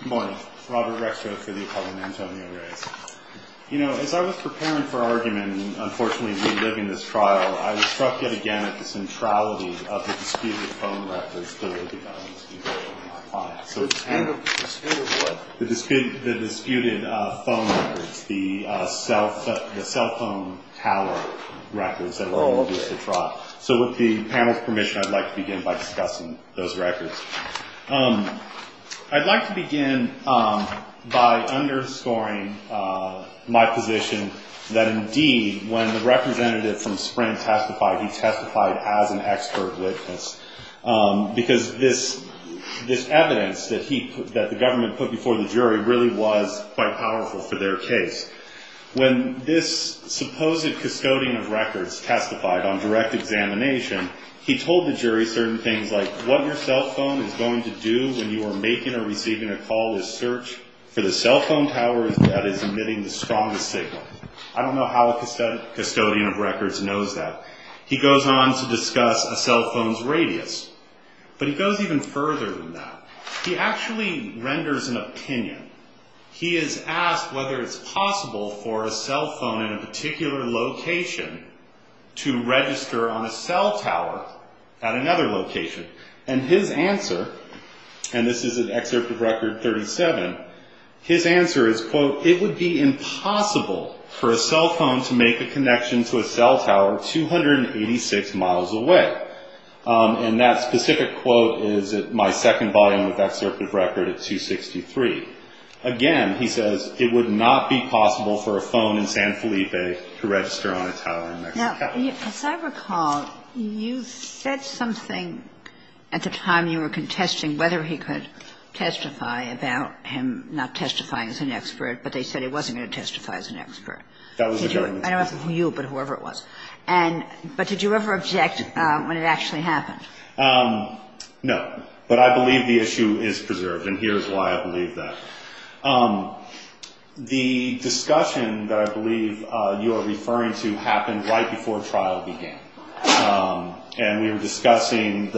Good morning. Robert Rexford for the Apollo and Antonio Reyes. You know, as I was preparing for argument, and unfortunately reliving this trial, I was struck yet again at the centrality of the disputed phone records that would be going to be going to my client. The dispute of what? The disputed phone records, the cell phone tally records that were going to be used to try. So with the panel's permission, I'd like to begin by discussing those records. I'd like to begin by underscoring my position that indeed when the representative from Sprint testified, he testified as an expert witness because this evidence that the government put before the jury really was quite powerful for their case. When this supposed custodian of records testified on direct examination, he told the jury certain things like what your cell phone is going to do when you are making or receiving a call is search for the cell phone tower that is emitting the strongest signal. I don't know how a custodian of records knows that. He goes on to discuss a cell phone's radius, but he goes even further than that. He actually renders an opinion. He is asked whether it's possible for a cell phone in a particular location to register on a cell tower at another location. And his answer, and this is an excerpt of record 37, his answer is, quote, it would be impossible for a cell phone to make a connection to a cell tower 286 miles away. And that specific quote is at my second volume of excerpt of record at 263. Again, he says, it would not be possible for a phone in San Felipe to register on a tower in Mexico. Kagan. Now, as I recall, you said something at the time you were contesting whether he could testify about him not testifying as an expert, but they said he wasn't going to testify as an expert. That was the government's position. I don't know about you, but whoever it was. But did you ever object when it actually happened? No, but I believe the issue is preserved, and here's why I believe that. The discussion that I believe you are referring to happened right before trial began, and we were discussing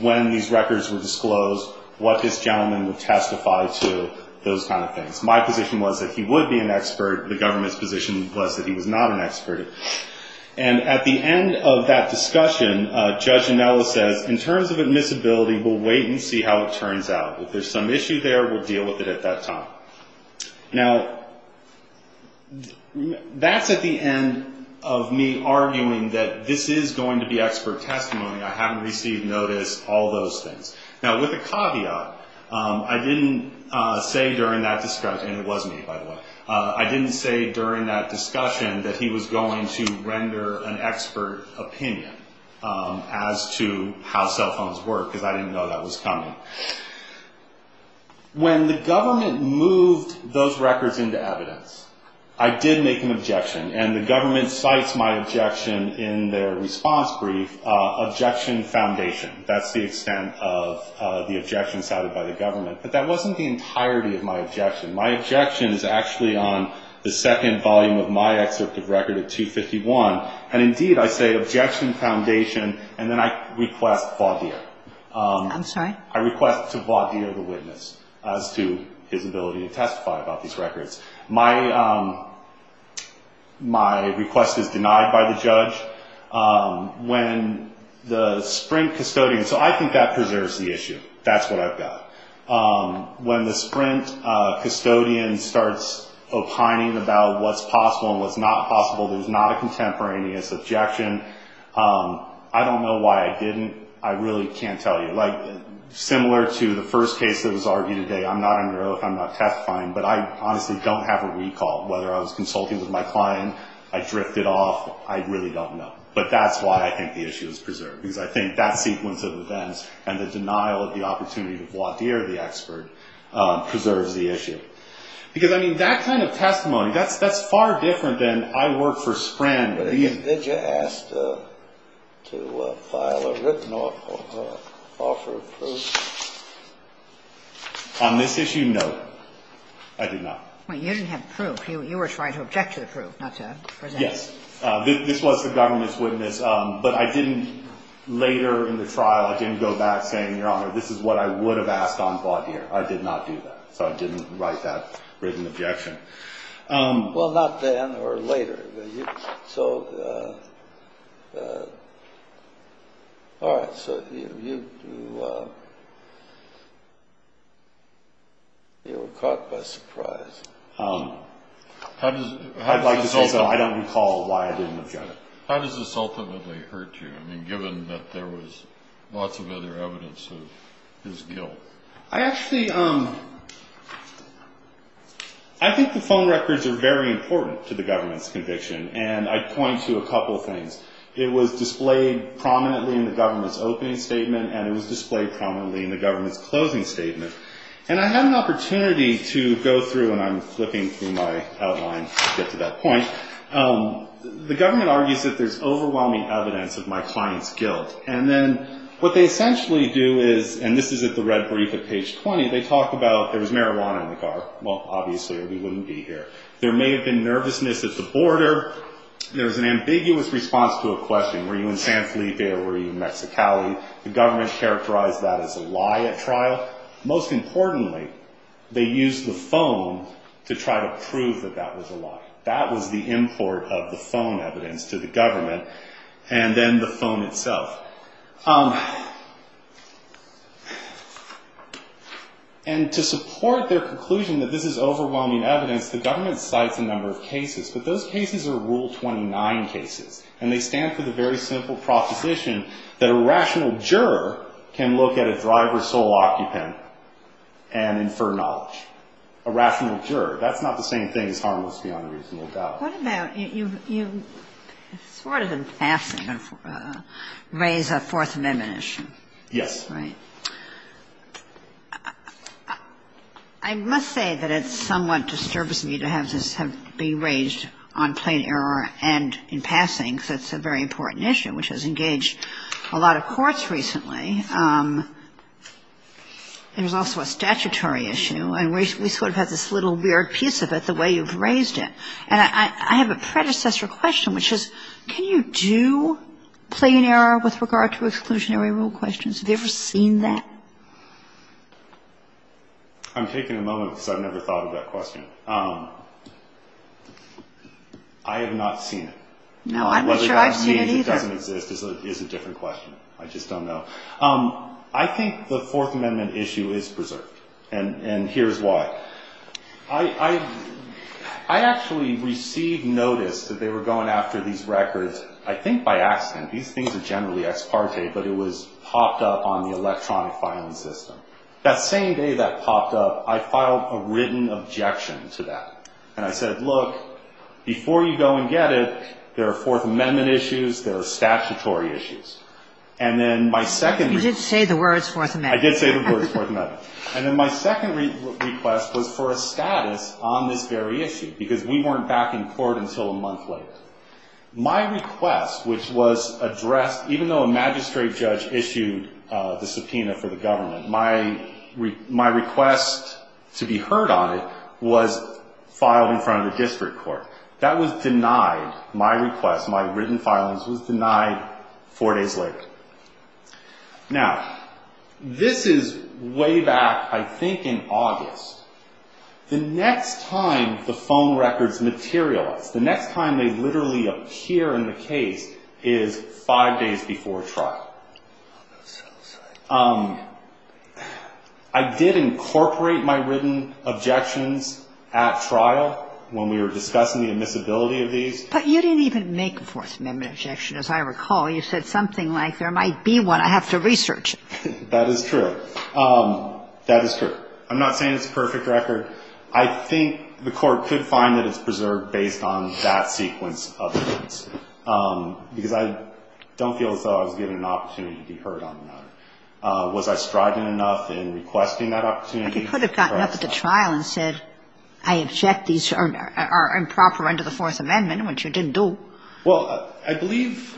when these records were disclosed, what this gentleman would testify to, those kind of things. My position was that he would be an expert. And at the end of that discussion, Judge Anello says, in terms of admissibility, we'll wait and see how it turns out. If there's some issue there, we'll deal with it at that time. Now, that's at the end of me arguing that this is going to be expert testimony. I haven't received notice, all those things. Now, with a caveat, I didn't say during that discussion, and it was me, by the way, I didn't say during that discussion that he was going to render an expert opinion as to how cell phones work, because I didn't know that was coming. When the government moved those records into evidence, I did make an objection, and the government cites my objection in their response brief, objection foundation. That's the extent of the objection cited by the government. But that wasn't the entirety of my objection. My objection is actually on the second volume of my excerpt of record at 251. And, indeed, I say objection foundation, and then I request voir dire. I'm sorry? I request to voir dire the witness as to his ability to testify about these records. My request is denied by the judge. When the Sprint custodian, so I think that preserves the issue. That's what I've got. When the Sprint custodian starts opining about what's possible and what's not possible, there's not a contemporaneous objection. I don't know why I didn't. I really can't tell you. Like, similar to the first case that was argued today, I'm not going to know if I'm not testifying, but I honestly don't have a recall. Whether I was consulting with my client, I drifted off, I really don't know. But that's why I think the issue is preserved, because I think that sequence of events and the denial of the opportunity to voir dire the expert preserves the issue. Because, I mean, that kind of testimony, that's far different than I work for Sprint. Did you ask to file a written offer of proof? On this issue, no. I did not. You didn't have proof. You were trying to object to the proof, not to present it. Yes. This was the government's witness, but I didn't, later in the trial, I didn't go back saying, Your Honor, this is what I would have asked on voir dire. I did not do that. So I didn't write that written objection. Well, not then or later. So, all right. So you were caught by surprise. I'd like to say, also, I don't recall why I didn't object. How does this ultimately hurt you? I mean, given that there was lots of other evidence of his guilt. I actually, I think the phone records are very important to the government's conviction, and I'd point to a couple of things. It was displayed prominently in the government's opening statement, and it was displayed prominently in the government's closing statement. And I had an opportunity to go through, and I'm flipping through my outline to get to that point. The government argues that there's overwhelming evidence of my client's guilt, and then what they essentially do is, and this is at the red brief at page 20, they talk about there was marijuana in the car. Well, obviously, we wouldn't be here. There may have been nervousness at the border. There was an ambiguous response to a question. Were you in San Felipe or were you in Mexicali? The government characterized that as a lie at trial. But most importantly, they used the phone to try to prove that that was a lie. That was the import of the phone evidence to the government, and then the phone itself. And to support their conclusion that this is overwhelming evidence, the government cites a number of cases, but those cases are Rule 29 cases, and they stand for the very simple proposition that a rational juror can look at a driver's sole occupant and infer knowledge. A rational juror. That's not the same thing as harmless beyond reasonable doubt. What about you sort of in passing raised a Fourth Amendment issue. Yes. Right. I must say that it somewhat disturbs me to have this be raised on plain error and in passing because it's a very important issue, which has engaged a lot of courts recently. There's also a statutory issue, and we sort of have this little weird piece of it the way you've raised it. And I have a predecessor question, which is, can you do plain error with regard to exclusionary rule questions? Have you ever seen that? I'm taking a moment because I've never thought of that question. I have not seen it. No, I'm not sure I've seen it either. Whether that means it doesn't exist is a different question. I just don't know. I think the Fourth Amendment issue is preserved, and here's why. I actually received notice that they were going after these records, I think by accident. These things are generally ex parte, but it was popped up on the electronic filing system. That same day that popped up, I filed a written objection to that, and I said, look, before you go and get it, there are Fourth Amendment issues, there are statutory issues. And then my second request. You did say the words Fourth Amendment. I did say the words Fourth Amendment. And then my second request was for a status on this very issue because we weren't back in court until a month later. My request, which was addressed, even though a magistrate judge issued the subpoena for the government, my request to be heard on it was filed in front of the district court. That was denied. My request, my written filings, was denied four days later. Now, this is way back, I think, in August. The next time the phone records materialize, the next time they literally appear in the case is five days before trial. I did incorporate my written objections at trial when we were discussing the admissibility of these. But you didn't even make a Fourth Amendment objection, as I recall. You said something like, there might be one, I have to research it. That is true. That is true. I'm not saying it's a perfect record. I think the court could find that it's preserved based on that sequence of events. Because I don't feel as though I was given an opportunity to be heard on the matter. Was I strident enough in requesting that opportunity? I think you could have gotten up at the trial and said, I object these are improper under the Fourth Amendment, which you didn't do. Well, I believe.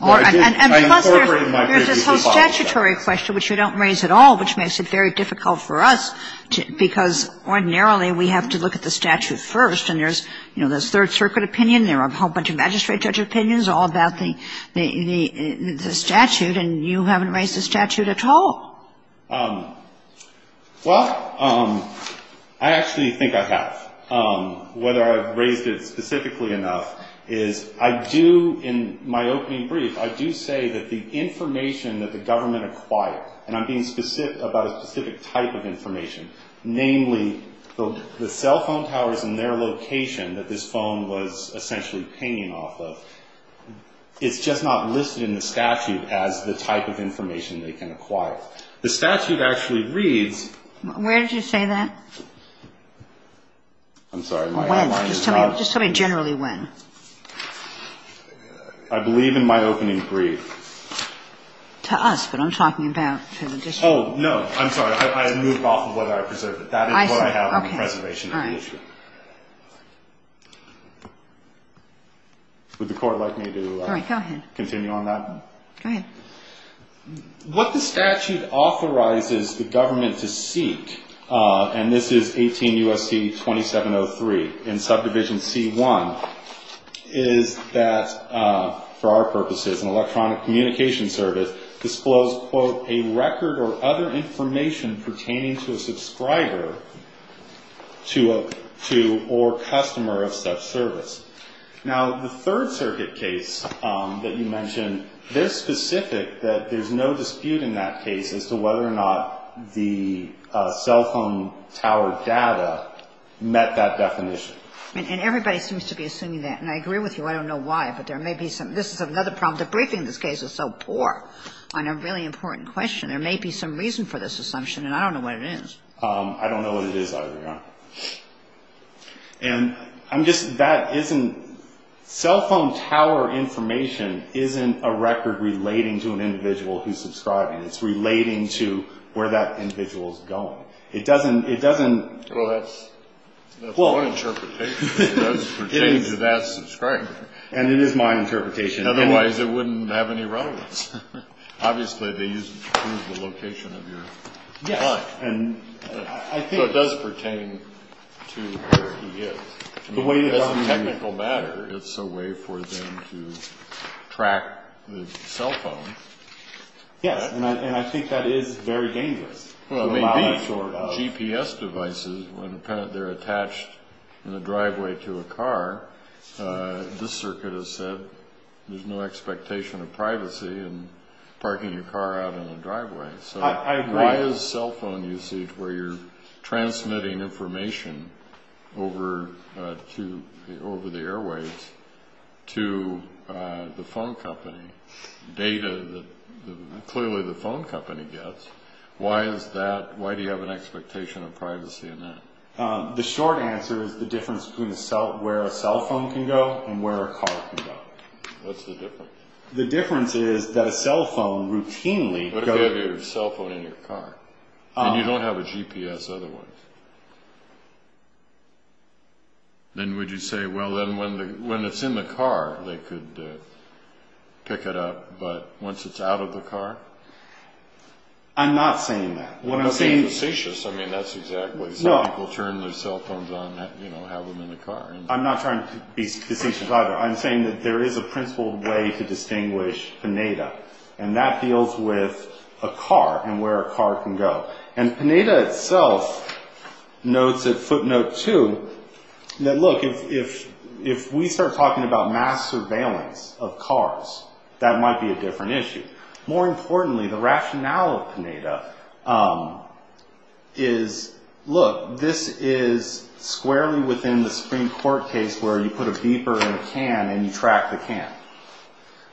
And plus, there's this whole statutory question, which you don't raise at all, which makes it very difficult for us, because ordinarily we have to look at the statute first. And there's, you know, this Third Circuit opinion. There are a whole bunch of magistrate judge opinions all about the statute. And you haven't raised the statute at all. Well, I actually think I have. Whether I've raised it specifically enough is I do, in my opening brief, I do say that the information that the government acquired, and I'm being specific about a specific type of information, namely the cell phone towers and their location that this phone was essentially pinging off of, it's just not listed in the statute as the type of information they can acquire. The statute actually reads. Where did you say that? I'm sorry. When? Just tell me generally when. I believe in my opening brief. To us, but I'm talking about to the district. Oh, no. I'm sorry. I moved off of what I preserved. That is what I have in the preservation of the issue. All right. Would the Court like me to continue on that one? Go ahead. What the statute authorizes the government to seek, and this is 18 U.S.C. 2703 in subdivision C-1, is that, for our purposes, an electronic communication service disclosed, quote, a record or other information pertaining to a subscriber to or customer of such service. Now, the Third Circuit case that you mentioned, they're specific that there's no dispute in that case as to whether or not the cell phone tower data met that definition. And everybody seems to be assuming that, and I agree with you. I don't know why, but there may be some. This is another problem. The briefing in this case is so poor on a really important question. There may be some reason for this assumption, and I don't know what it is. I don't know what it is either, Your Honor. And I'm just – that isn't – cell phone tower information isn't a record relating to an individual who's subscribing. It's relating to where that individual is going. It doesn't – it doesn't – Well, that's my interpretation. It does pertain to that subscriber. And it is my interpretation. Otherwise, it wouldn't have any relevance. Obviously, they use it to prove the location of your client. Yes. So it does pertain to where he is. As a technical matter, it's a way for them to track the cell phone. Yes, and I think that is very dangerous. Well, it may be. GPS devices, when they're attached in the driveway to a car, this circuit has said there's no expectation of privacy in parking your car out in the driveway. I agree. So why is cell phone usage where you're transmitting information over to – over the airways to the phone company, data that clearly the phone company gets, why is that – why do you have an expectation of privacy in that? The short answer is the difference between where a cell phone can go and where a car can go. What's the difference? The difference is that a cell phone routinely – What if you have your cell phone in your car and you don't have a GPS otherwise? Then would you say, well, then when it's in the car, they could pick it up, but once it's out of the car? I'm not saying that. You're not being facetious. I mean, that's exactly – some people turn their cell phones on and have them in the car. I'm not trying to be facetious either. I'm saying that there is a principled way to distinguish Pineda, and that deals with a car and where a car can go. And Pineda itself notes at footnote two that, look, if we start talking about mass surveillance of cars, that might be a different issue. More importantly, the rationale of Pineda is, look, this is squarely within the Supreme Court case where you put a beeper in a can and you track the can.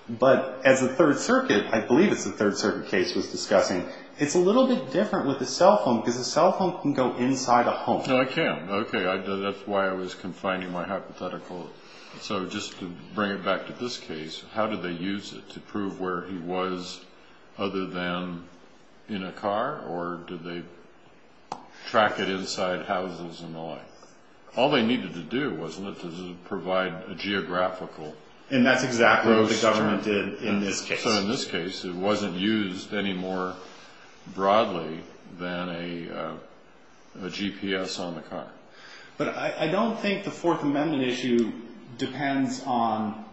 But as the Third Circuit – I believe it's the Third Circuit case was discussing – it's a little bit different with a cell phone because a cell phone can go inside a home. No, it can't. Okay. That's why I was confining my hypothetical. So just to bring it back to this case, how did they use it? To prove where he was other than in a car, or did they track it inside houses and the like? All they needed to do, wasn't it, was to provide a geographical – And that's exactly what the government did in this case. So in this case, it wasn't used any more broadly than a GPS on the car. But I don't think the Fourth Amendment issue depends on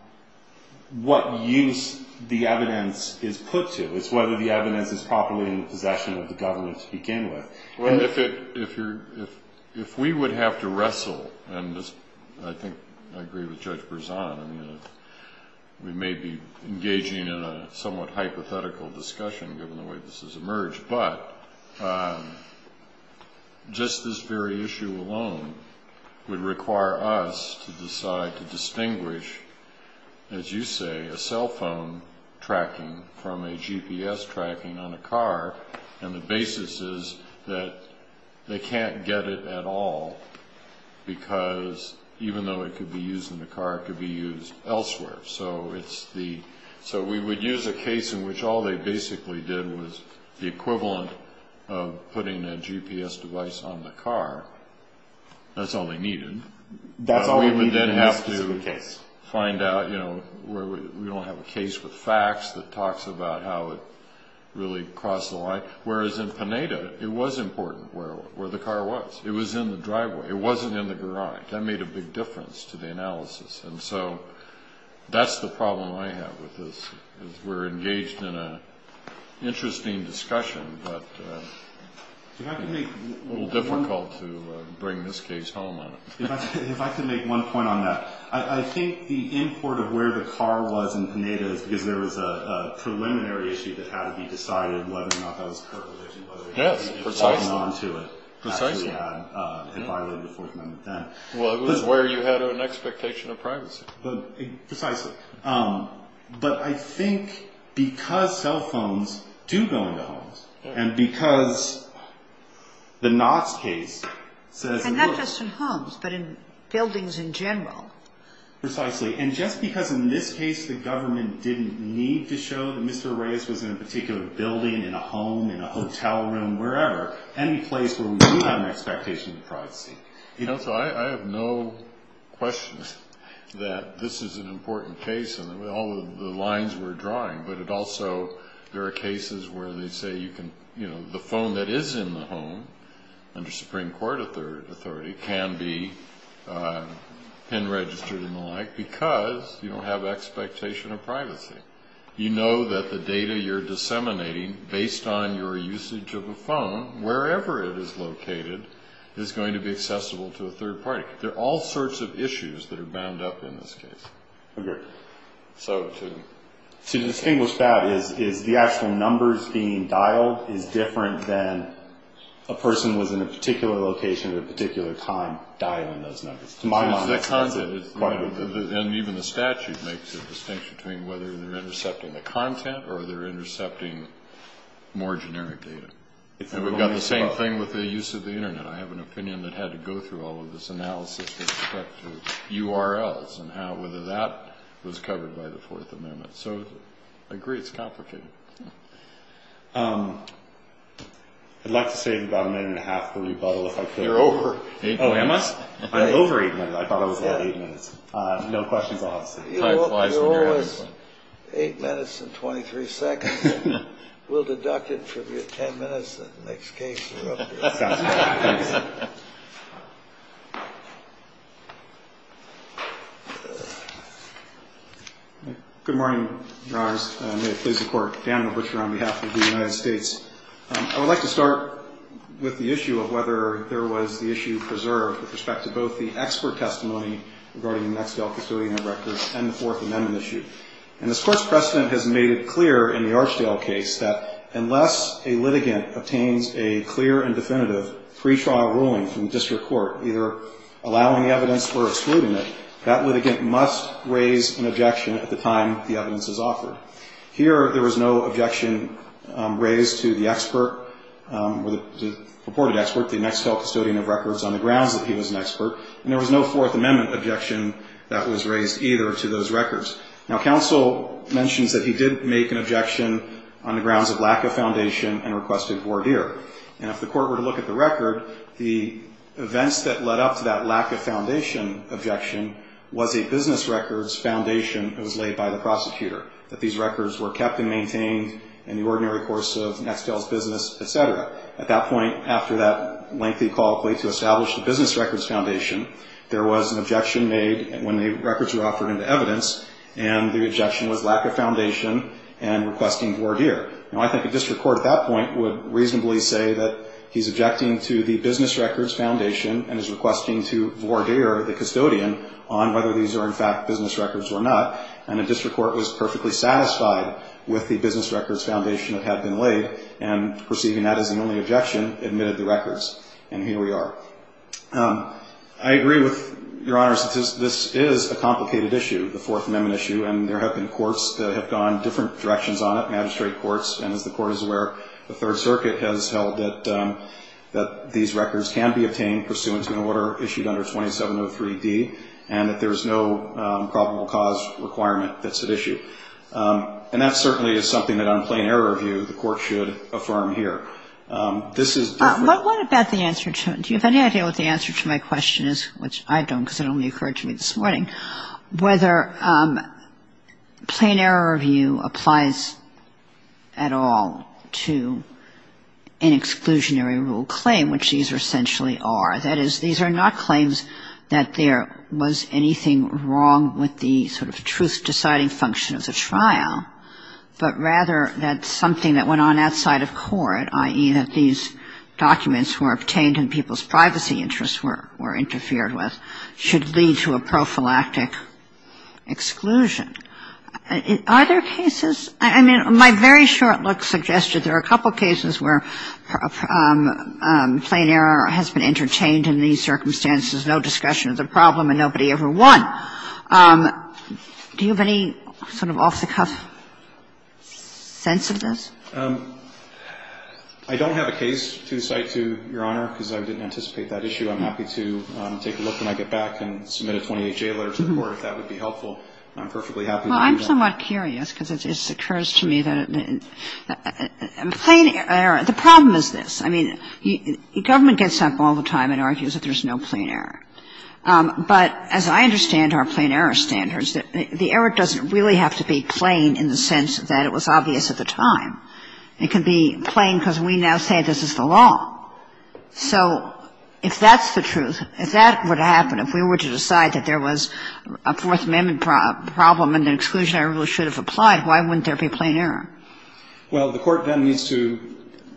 what use the evidence is put to. It's whether the evidence is properly in the possession of the government to begin with. Well, if we would have to wrestle – and I think I agree with Judge Berzon. I mean, we may be engaging in a somewhat hypothetical discussion given the way this has emerged. But just this very issue alone would require us to decide to distinguish, as you say, a cell phone tracking from a GPS tracking on a car. And the basis is that they can't get it at all, because even though it could be used in the car, it could be used elsewhere. So we would use a case in which all they basically did was the equivalent of putting a GPS device on the car. That's all they needed. That's all they needed in this specific case. We don't have a case with facts that talks about how it really crossed the line. Whereas in Pineda, it was important where the car was. It was in the driveway. It wasn't in the garage. That made a big difference to the analysis. And so that's the problem I have with this. We're engaged in an interesting discussion, but it's a little difficult to bring this case home on it. If I could make one point on that. I think the import of where the car was in Pineda is because there was a preliminary issue that had to be decided, whether or not that was correct. Yes, precisely. It violated the Fourth Amendment then. Well, it was where you had an expectation of privacy. Precisely. But I think because cell phones do go into homes, and because the Knott's case says it works. Not just in homes, but in buildings in general. Precisely. And just because in this case the government didn't need to show that Mr. Reyes was in a particular building, in a home, in a hotel room, wherever, any place where we do have an expectation of privacy. You know, so I have no question that this is an important case in all of the lines we're drawing. But it also, there are cases where they say you can, you know, the phone that is in the home, under Supreme Court authority, can be pen registered and the like because you don't have expectation of privacy. You know that the data you're disseminating, based on your usage of a phone, wherever it is located, is going to be accessible to a third party. There are all sorts of issues that are bound up in this case. Agreed. So to... To distinguish that is the actual numbers being dialed is different than a person was in a particular location at a particular time dialing those numbers. And even the statute makes a distinction between whether they're intercepting the content or they're intercepting more generic data. And we've got the same thing with the use of the internet. I have an opinion that had to go through all of this analysis with respect to URLs and how whether that was covered by the Fourth Amendment. So I agree it's complicated. I'd like to save about a minute and a half for rebuttal if I could. You're over. Oh, am I? I'm over eight minutes. I thought I was at eight minutes. No questions asked. You're always eight minutes and 23 seconds. We'll deduct it from your ten minutes that the next case erupts. That's fine. Thanks. Good morning, Your Honors. May it please the Court. Daniel Butcher on behalf of the United States. I would like to start with the issue of whether there was the issue preserved with respect to both the expert testimony regarding the Nexdale custodian records and the Fourth Amendment issue. And this Court's precedent has made it clear in the Archdale case that unless a litigant obtains a clear and definitive pre-trial ruling from the district court, either allowing evidence or excluding it, that litigant must raise an objection at the time the evidence is offered. Here, there was no objection raised to the expert or the reported expert, the Nexdale custodian of records, on the grounds that he was an expert. And there was no Fourth Amendment objection that was raised either to those records. Now, counsel mentions that he did make an objection on the grounds of lack of foundation and requested voir dire. And if the Court were to look at the record, the events that led up to that lack of foundation objection was a business records foundation that was laid by the prosecutor, that these records were kept and maintained in the ordinary course of Nexdale's business, etc. At that point, after that lengthy call to establish the business records foundation, there was an objection made when the records were offered into evidence, and the objection was lack of foundation and requesting voir dire. Now, I think a district court at that point would reasonably say that he's objecting to the business records foundation and is requesting to voir dire the custodian on whether these are, in fact, business records or not. And a district court was perfectly satisfied with the business records foundation that had been laid and, perceiving that as the only objection, admitted the records. And here we are. I agree with Your Honors that this is a complicated issue, the Fourth Amendment issue, and there have been courts that have gone different directions on it, magistrate courts. And as the Court is aware, the Third Circuit has held that these records can be obtained pursuant to an order issued under 2703D and that there is no probable cause requirement that's at issue. And that certainly is something that on plain error review the Court should affirm here. This is different. What about the answer to it? Do you have any idea what the answer to my question is, which I don't because it only occurred to me this morning, whether plain error review applies at all to an exclusionary rule claim, which these essentially are. That is, these are not claims that there was anything wrong with the sort of truth-deciding function of the trial, but rather that something that went on outside of court, i.e., that these documents were obtained and people's privacy interests were interfered with, should lead to a prophylactic exclusion. Are there cases? I mean, my very short look suggested there are a couple cases where plain error has been entertained in these circumstances, no discussion of the problem, and nobody ever won. Do you have any sort of off-the-cuff sense of this? I don't have a case to cite to Your Honor because I didn't anticipate that issue. I'm happy to take a look when I get back and submit a 28-J letter to the Court if that would be helpful. I'm perfectly happy to do that. I'm somewhat curious because it occurs to me that plain error, the problem is this. I mean, government gets up all the time and argues that there's no plain error. But as I understand our plain error standards, the error doesn't really have to be plain in the sense that it was obvious at the time. It can be plain because we now say this is the law. So if that's the truth, if that were to happen, if we were to decide that there was a Fourth Amendment exclusion, I really should have applied, why wouldn't there be plain error? Well, the Court then needs to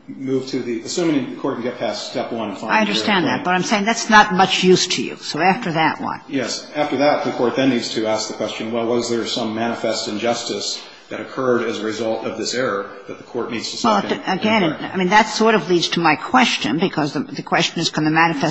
move to the – assuming the Court can get past step one, find the error. I understand that. But I'm saying that's not much use to you. So after that, what? Yes. After that, the Court then needs to ask the question, well, was there some manifest injustice that occurred as a result of this error that the Court needs to solve? Well, again, I mean, that sort of leads to my question because the question is can the have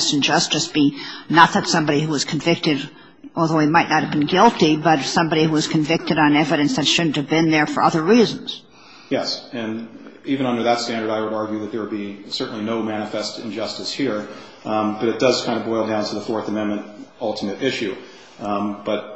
been there for other reasons? Yes. And even under that standard, I would argue that there would be certainly no manifest injustice here. But it does kind of boil down to the Fourth Amendment ultimate issue. But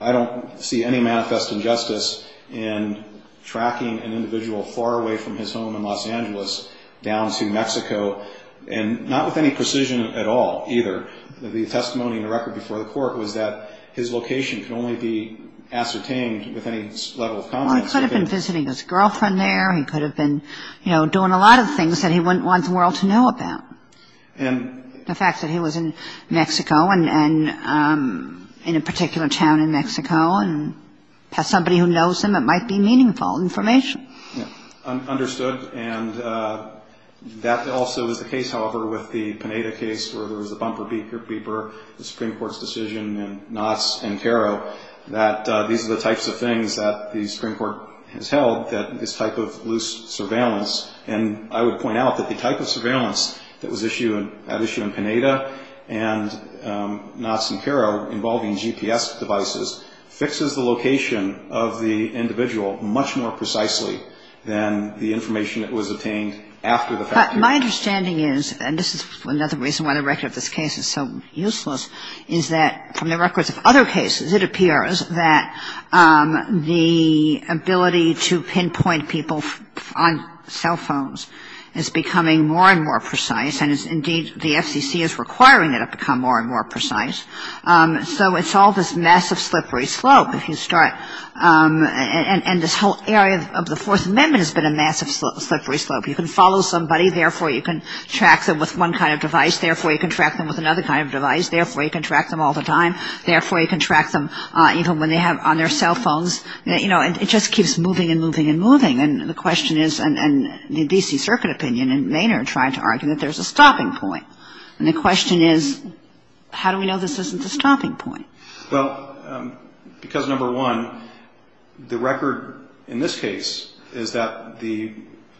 I don't see any manifest injustice in tracking an individual far away from his home in Los Angeles down to Mexico, and not with any precision at all, either. The testimony in the record before the Court was that his location can only be ascertained with any level of confidence. Well, he could have been visiting his girlfriend there. He could have been, you know, doing a lot of things that he wouldn't want the world to know about. And – The fact that he was in Mexico and in a particular town in Mexico and has somebody who knows him, it might be meaningful information. Understood. And that also is the case, however, with the Pineda case where there was a bumper beeper, the Supreme Court's decision in Knotts and Caro that these are the types of things that the Supreme Court has held that is type of loose surveillance. And I would point out that the type of surveillance that was at issue in Pineda and Knotts and Caro involving GPS devices fixes the location of the individual much more precisely than the information that was obtained after the fact. But my understanding is, and this is another reason why the record of this case is so useless, is that from the records of other cases it appears that the ability to pinpoint people on cell phones is becoming more and more precise, and indeed the FCC is requiring it to become more and more precise. So it's all this massive slippery slope if you start – and this whole area of the Fourth Amendment has been a massive slippery slope. You can follow somebody, therefore you can track them with one kind of device, therefore you can track them with another kind of device, therefore you can track them all the time, therefore you can track them even when they have on their cell phones. You know, it just keeps moving and moving and moving. And the question is, and the D.C. Circuit opinion and Maynard tried to argue that there's a stopping point. And the question is, how do we know this isn't a stopping point? Well, because number one, the record in this case is that the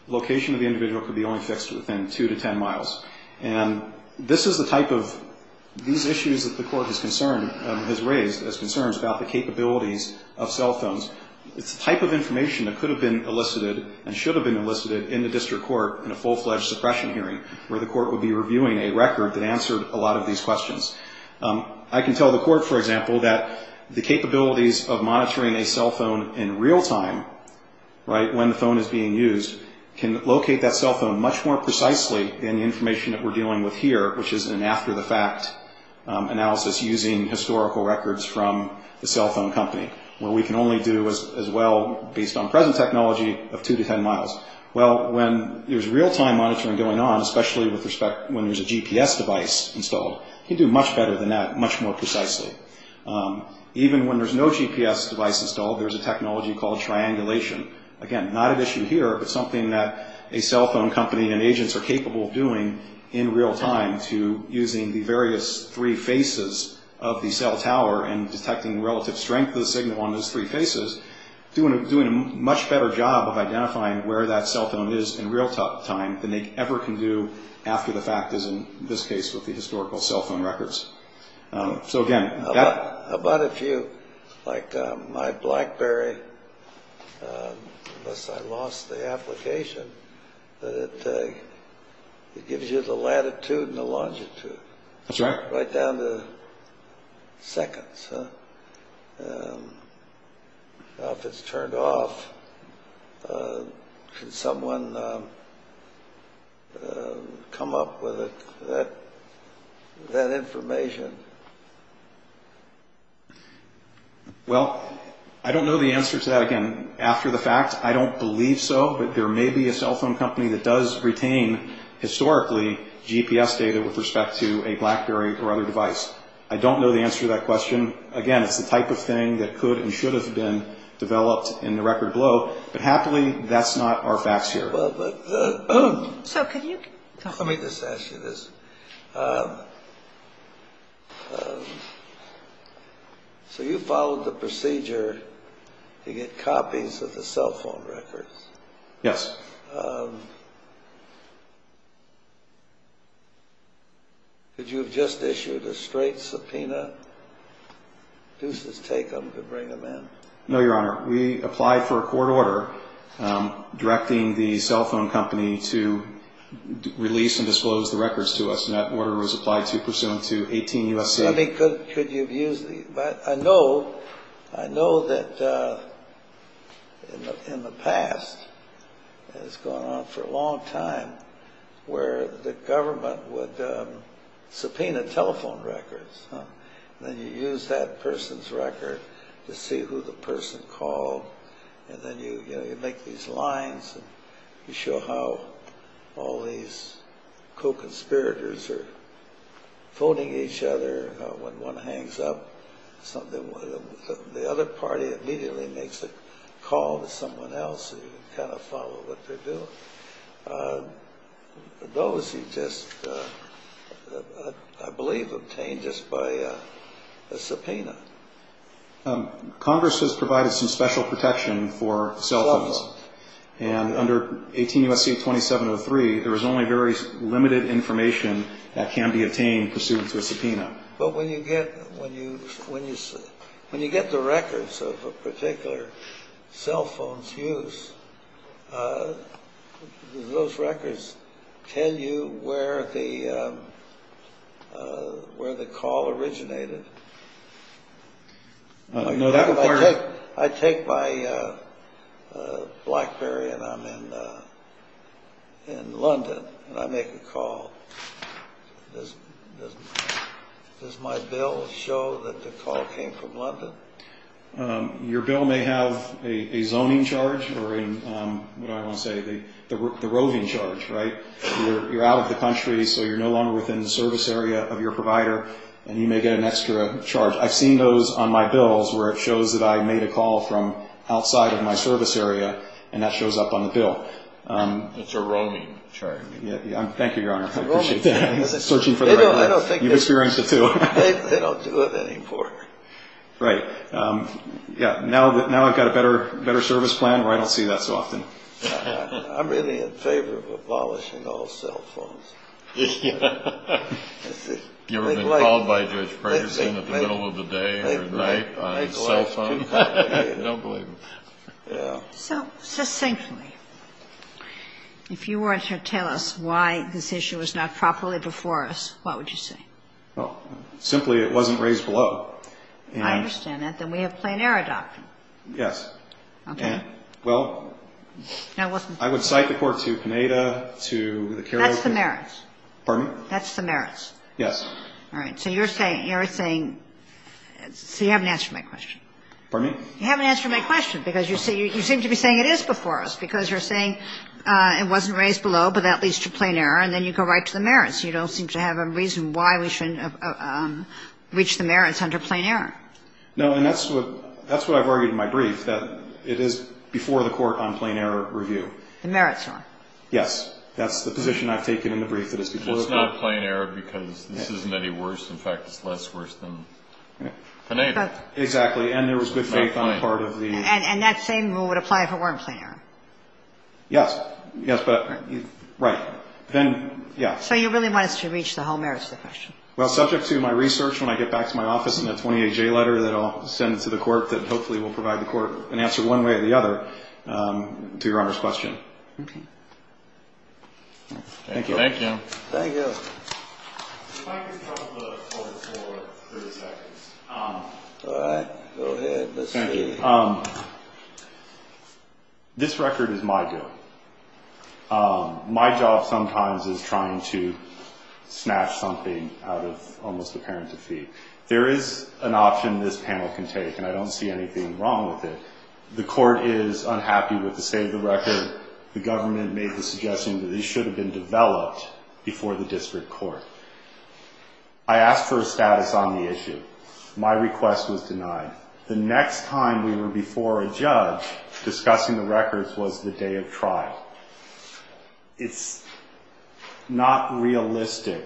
location of the individual could be only fixed within two to ten miles. And this is the type of – these issues that the Court has concerned – has raised as concerns about the capabilities of cell phones, it's the type of information that could have been elicited and should have been elicited in the district court in a full-fledged suppression hearing, where the court would be reviewing a record that answered a lot of these questions. I can tell the Court, for example, that the capabilities of monitoring a cell phone in real time, right, when the phone is being used, can locate that cell phone much more precisely than the information that we're dealing with here, which is an after-the-fact analysis using historical records from the cell phone company, where we can only do as well, based on present technology, of two to ten miles. Well, when there's real-time monitoring going on, especially with respect – GPS device installed, you can do much better than that, much more precisely. Even when there's no GPS device installed, there's a technology called triangulation. Again, not an issue here, but something that a cell phone company and agents are capable of doing in real time to – using the various three faces of the cell tower and detecting relative strength of the signal on those three faces, doing a much better job of identifying where that cell phone is in real time than they ever can do after-the-fact, as in this case with the historical cell phone records. So again, that – About a few, like my BlackBerry, unless I lost the application, that it gives you the latitude and the longitude. That's right. Right down to seconds. Now, if it's turned off, can someone come up with that information? Well, I don't know the answer to that. Again, after-the-fact, I don't believe so, but there may be a cell phone company that does retain, historically, GPS data with respect to a BlackBerry or other device. I don't know the answer to that question. Again, it's the type of thing that could and should have been developed in the record below, but happily, that's not our facts here. So could you – Let me just ask you this. So you followed the procedure to get copies of the cell phone records. Yes. Could you have just issued a straight subpoena? Do you just take them to bring them in? No, Your Honor. We applied for a court order directing the cell phone company to release and disclose the records to us, and that order was applied to pursuant to 18 U.S.C. I mean, could you have used the – But I know that in the past, and it's gone on for a long time, where the government would subpoena telephone records. Then you use that person's record to see who the person called, and then you make these lines, and you show how all these co-conspirators are phoning each other when one hangs up something, the other party immediately makes a call to someone else and you kind of follow what they're doing. Those are just, I believe, obtained just by a subpoena. Congress has provided some special protection for cell phones, and under 18 U.S.C. 2703, there is only very limited information that can be obtained pursuant to a subpoena. But when you get the records of a particular cell phone's use, do those records tell you where the call originated? I take my BlackBerry, and I'm in London, and I make a call. Does my bill show that the call came from London? Your bill may have a zoning charge or, what do I want to say, the roving charge, right? You're out of the country, so you're no longer within the service area of your provider, and you may get an extra charge. I've seen those on my bills where it shows that I made a call from outside of my service area, and that shows up on the bill. It's a roving charge. Thank you, Your Honor. I appreciate that. They don't do it anymore. Right. Now I've got a better service plan where I don't see that so often. I'm really in favor of abolishing all cell phones. Have you ever been called by Judge Pregerson at the middle of the day or night on a cell phone? I don't believe him. So, succinctly, if you were to tell us why this issue was not properly before us, what would you say? Well, simply it wasn't raised below. I understand that. Then we have plain error doctrine. Yes. Okay. Well, I would cite the court to Pineda, to the Carolingian. That's the merits. Pardon me? That's the merits. Yes. All right. So you're saying, so you haven't answered my question. Pardon me? You haven't answered my question, because you seem to be saying it is before us, because you're saying it wasn't raised below, but that leads to plain error, and then you go right to the merits. You don't seem to have a reason why we shouldn't reach the merits under plain error. No, and that's what I've argued in my brief, that it is before the court on plain error review. The merits are. Yes. That's the position I've taken in the brief that it's before the court. It's not plain error, because this isn't any worse. In fact, it's less worse than Pineda. Exactly. And there was good faith on the part of the. And that same rule would apply if it weren't plain error. Yes. Yes, but. Right. Then, yes. So you really want us to reach the whole merits of the question. Well, subject to my research, when I get back to my office in a 28-J letter that I'll send to the court that hopefully will provide the court an answer one way or the other to Your Honor's question. Okay. Thank you. Thank you. Thank you. All right. Go ahead. Let's see. Thank you. This record is my doing. My job sometimes is trying to snatch something out of almost a parent's defeat. There is an option this panel can take, and I don't see anything wrong with it. The court is unhappy with the state of the record. I asked for a status on the issue. My request was denied. The next time we were before a judge discussing the records was the day of trial. It's not realistic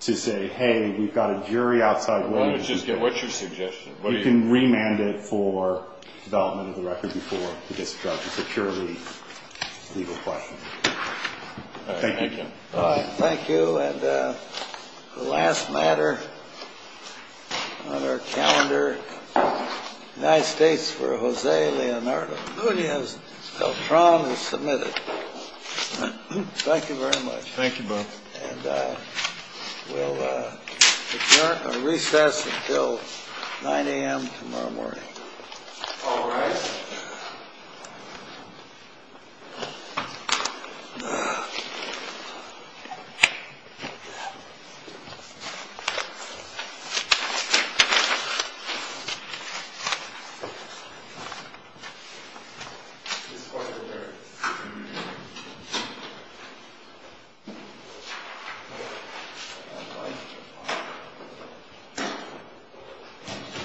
to say, hey, we've got a jury outside waiting. Well, then what's your suggestion? You can remand it for development of the record before the district judge securely. before a judge referred it to the district judge. Thank you. Thank you. And the last matter on our calendar, United States for Jose Leonardo Nunez-Beltran is submitted. Thank you very much. Thank you, Bob. And we'll adjourn or recess until 9 a.m. tomorrow morning. All rise.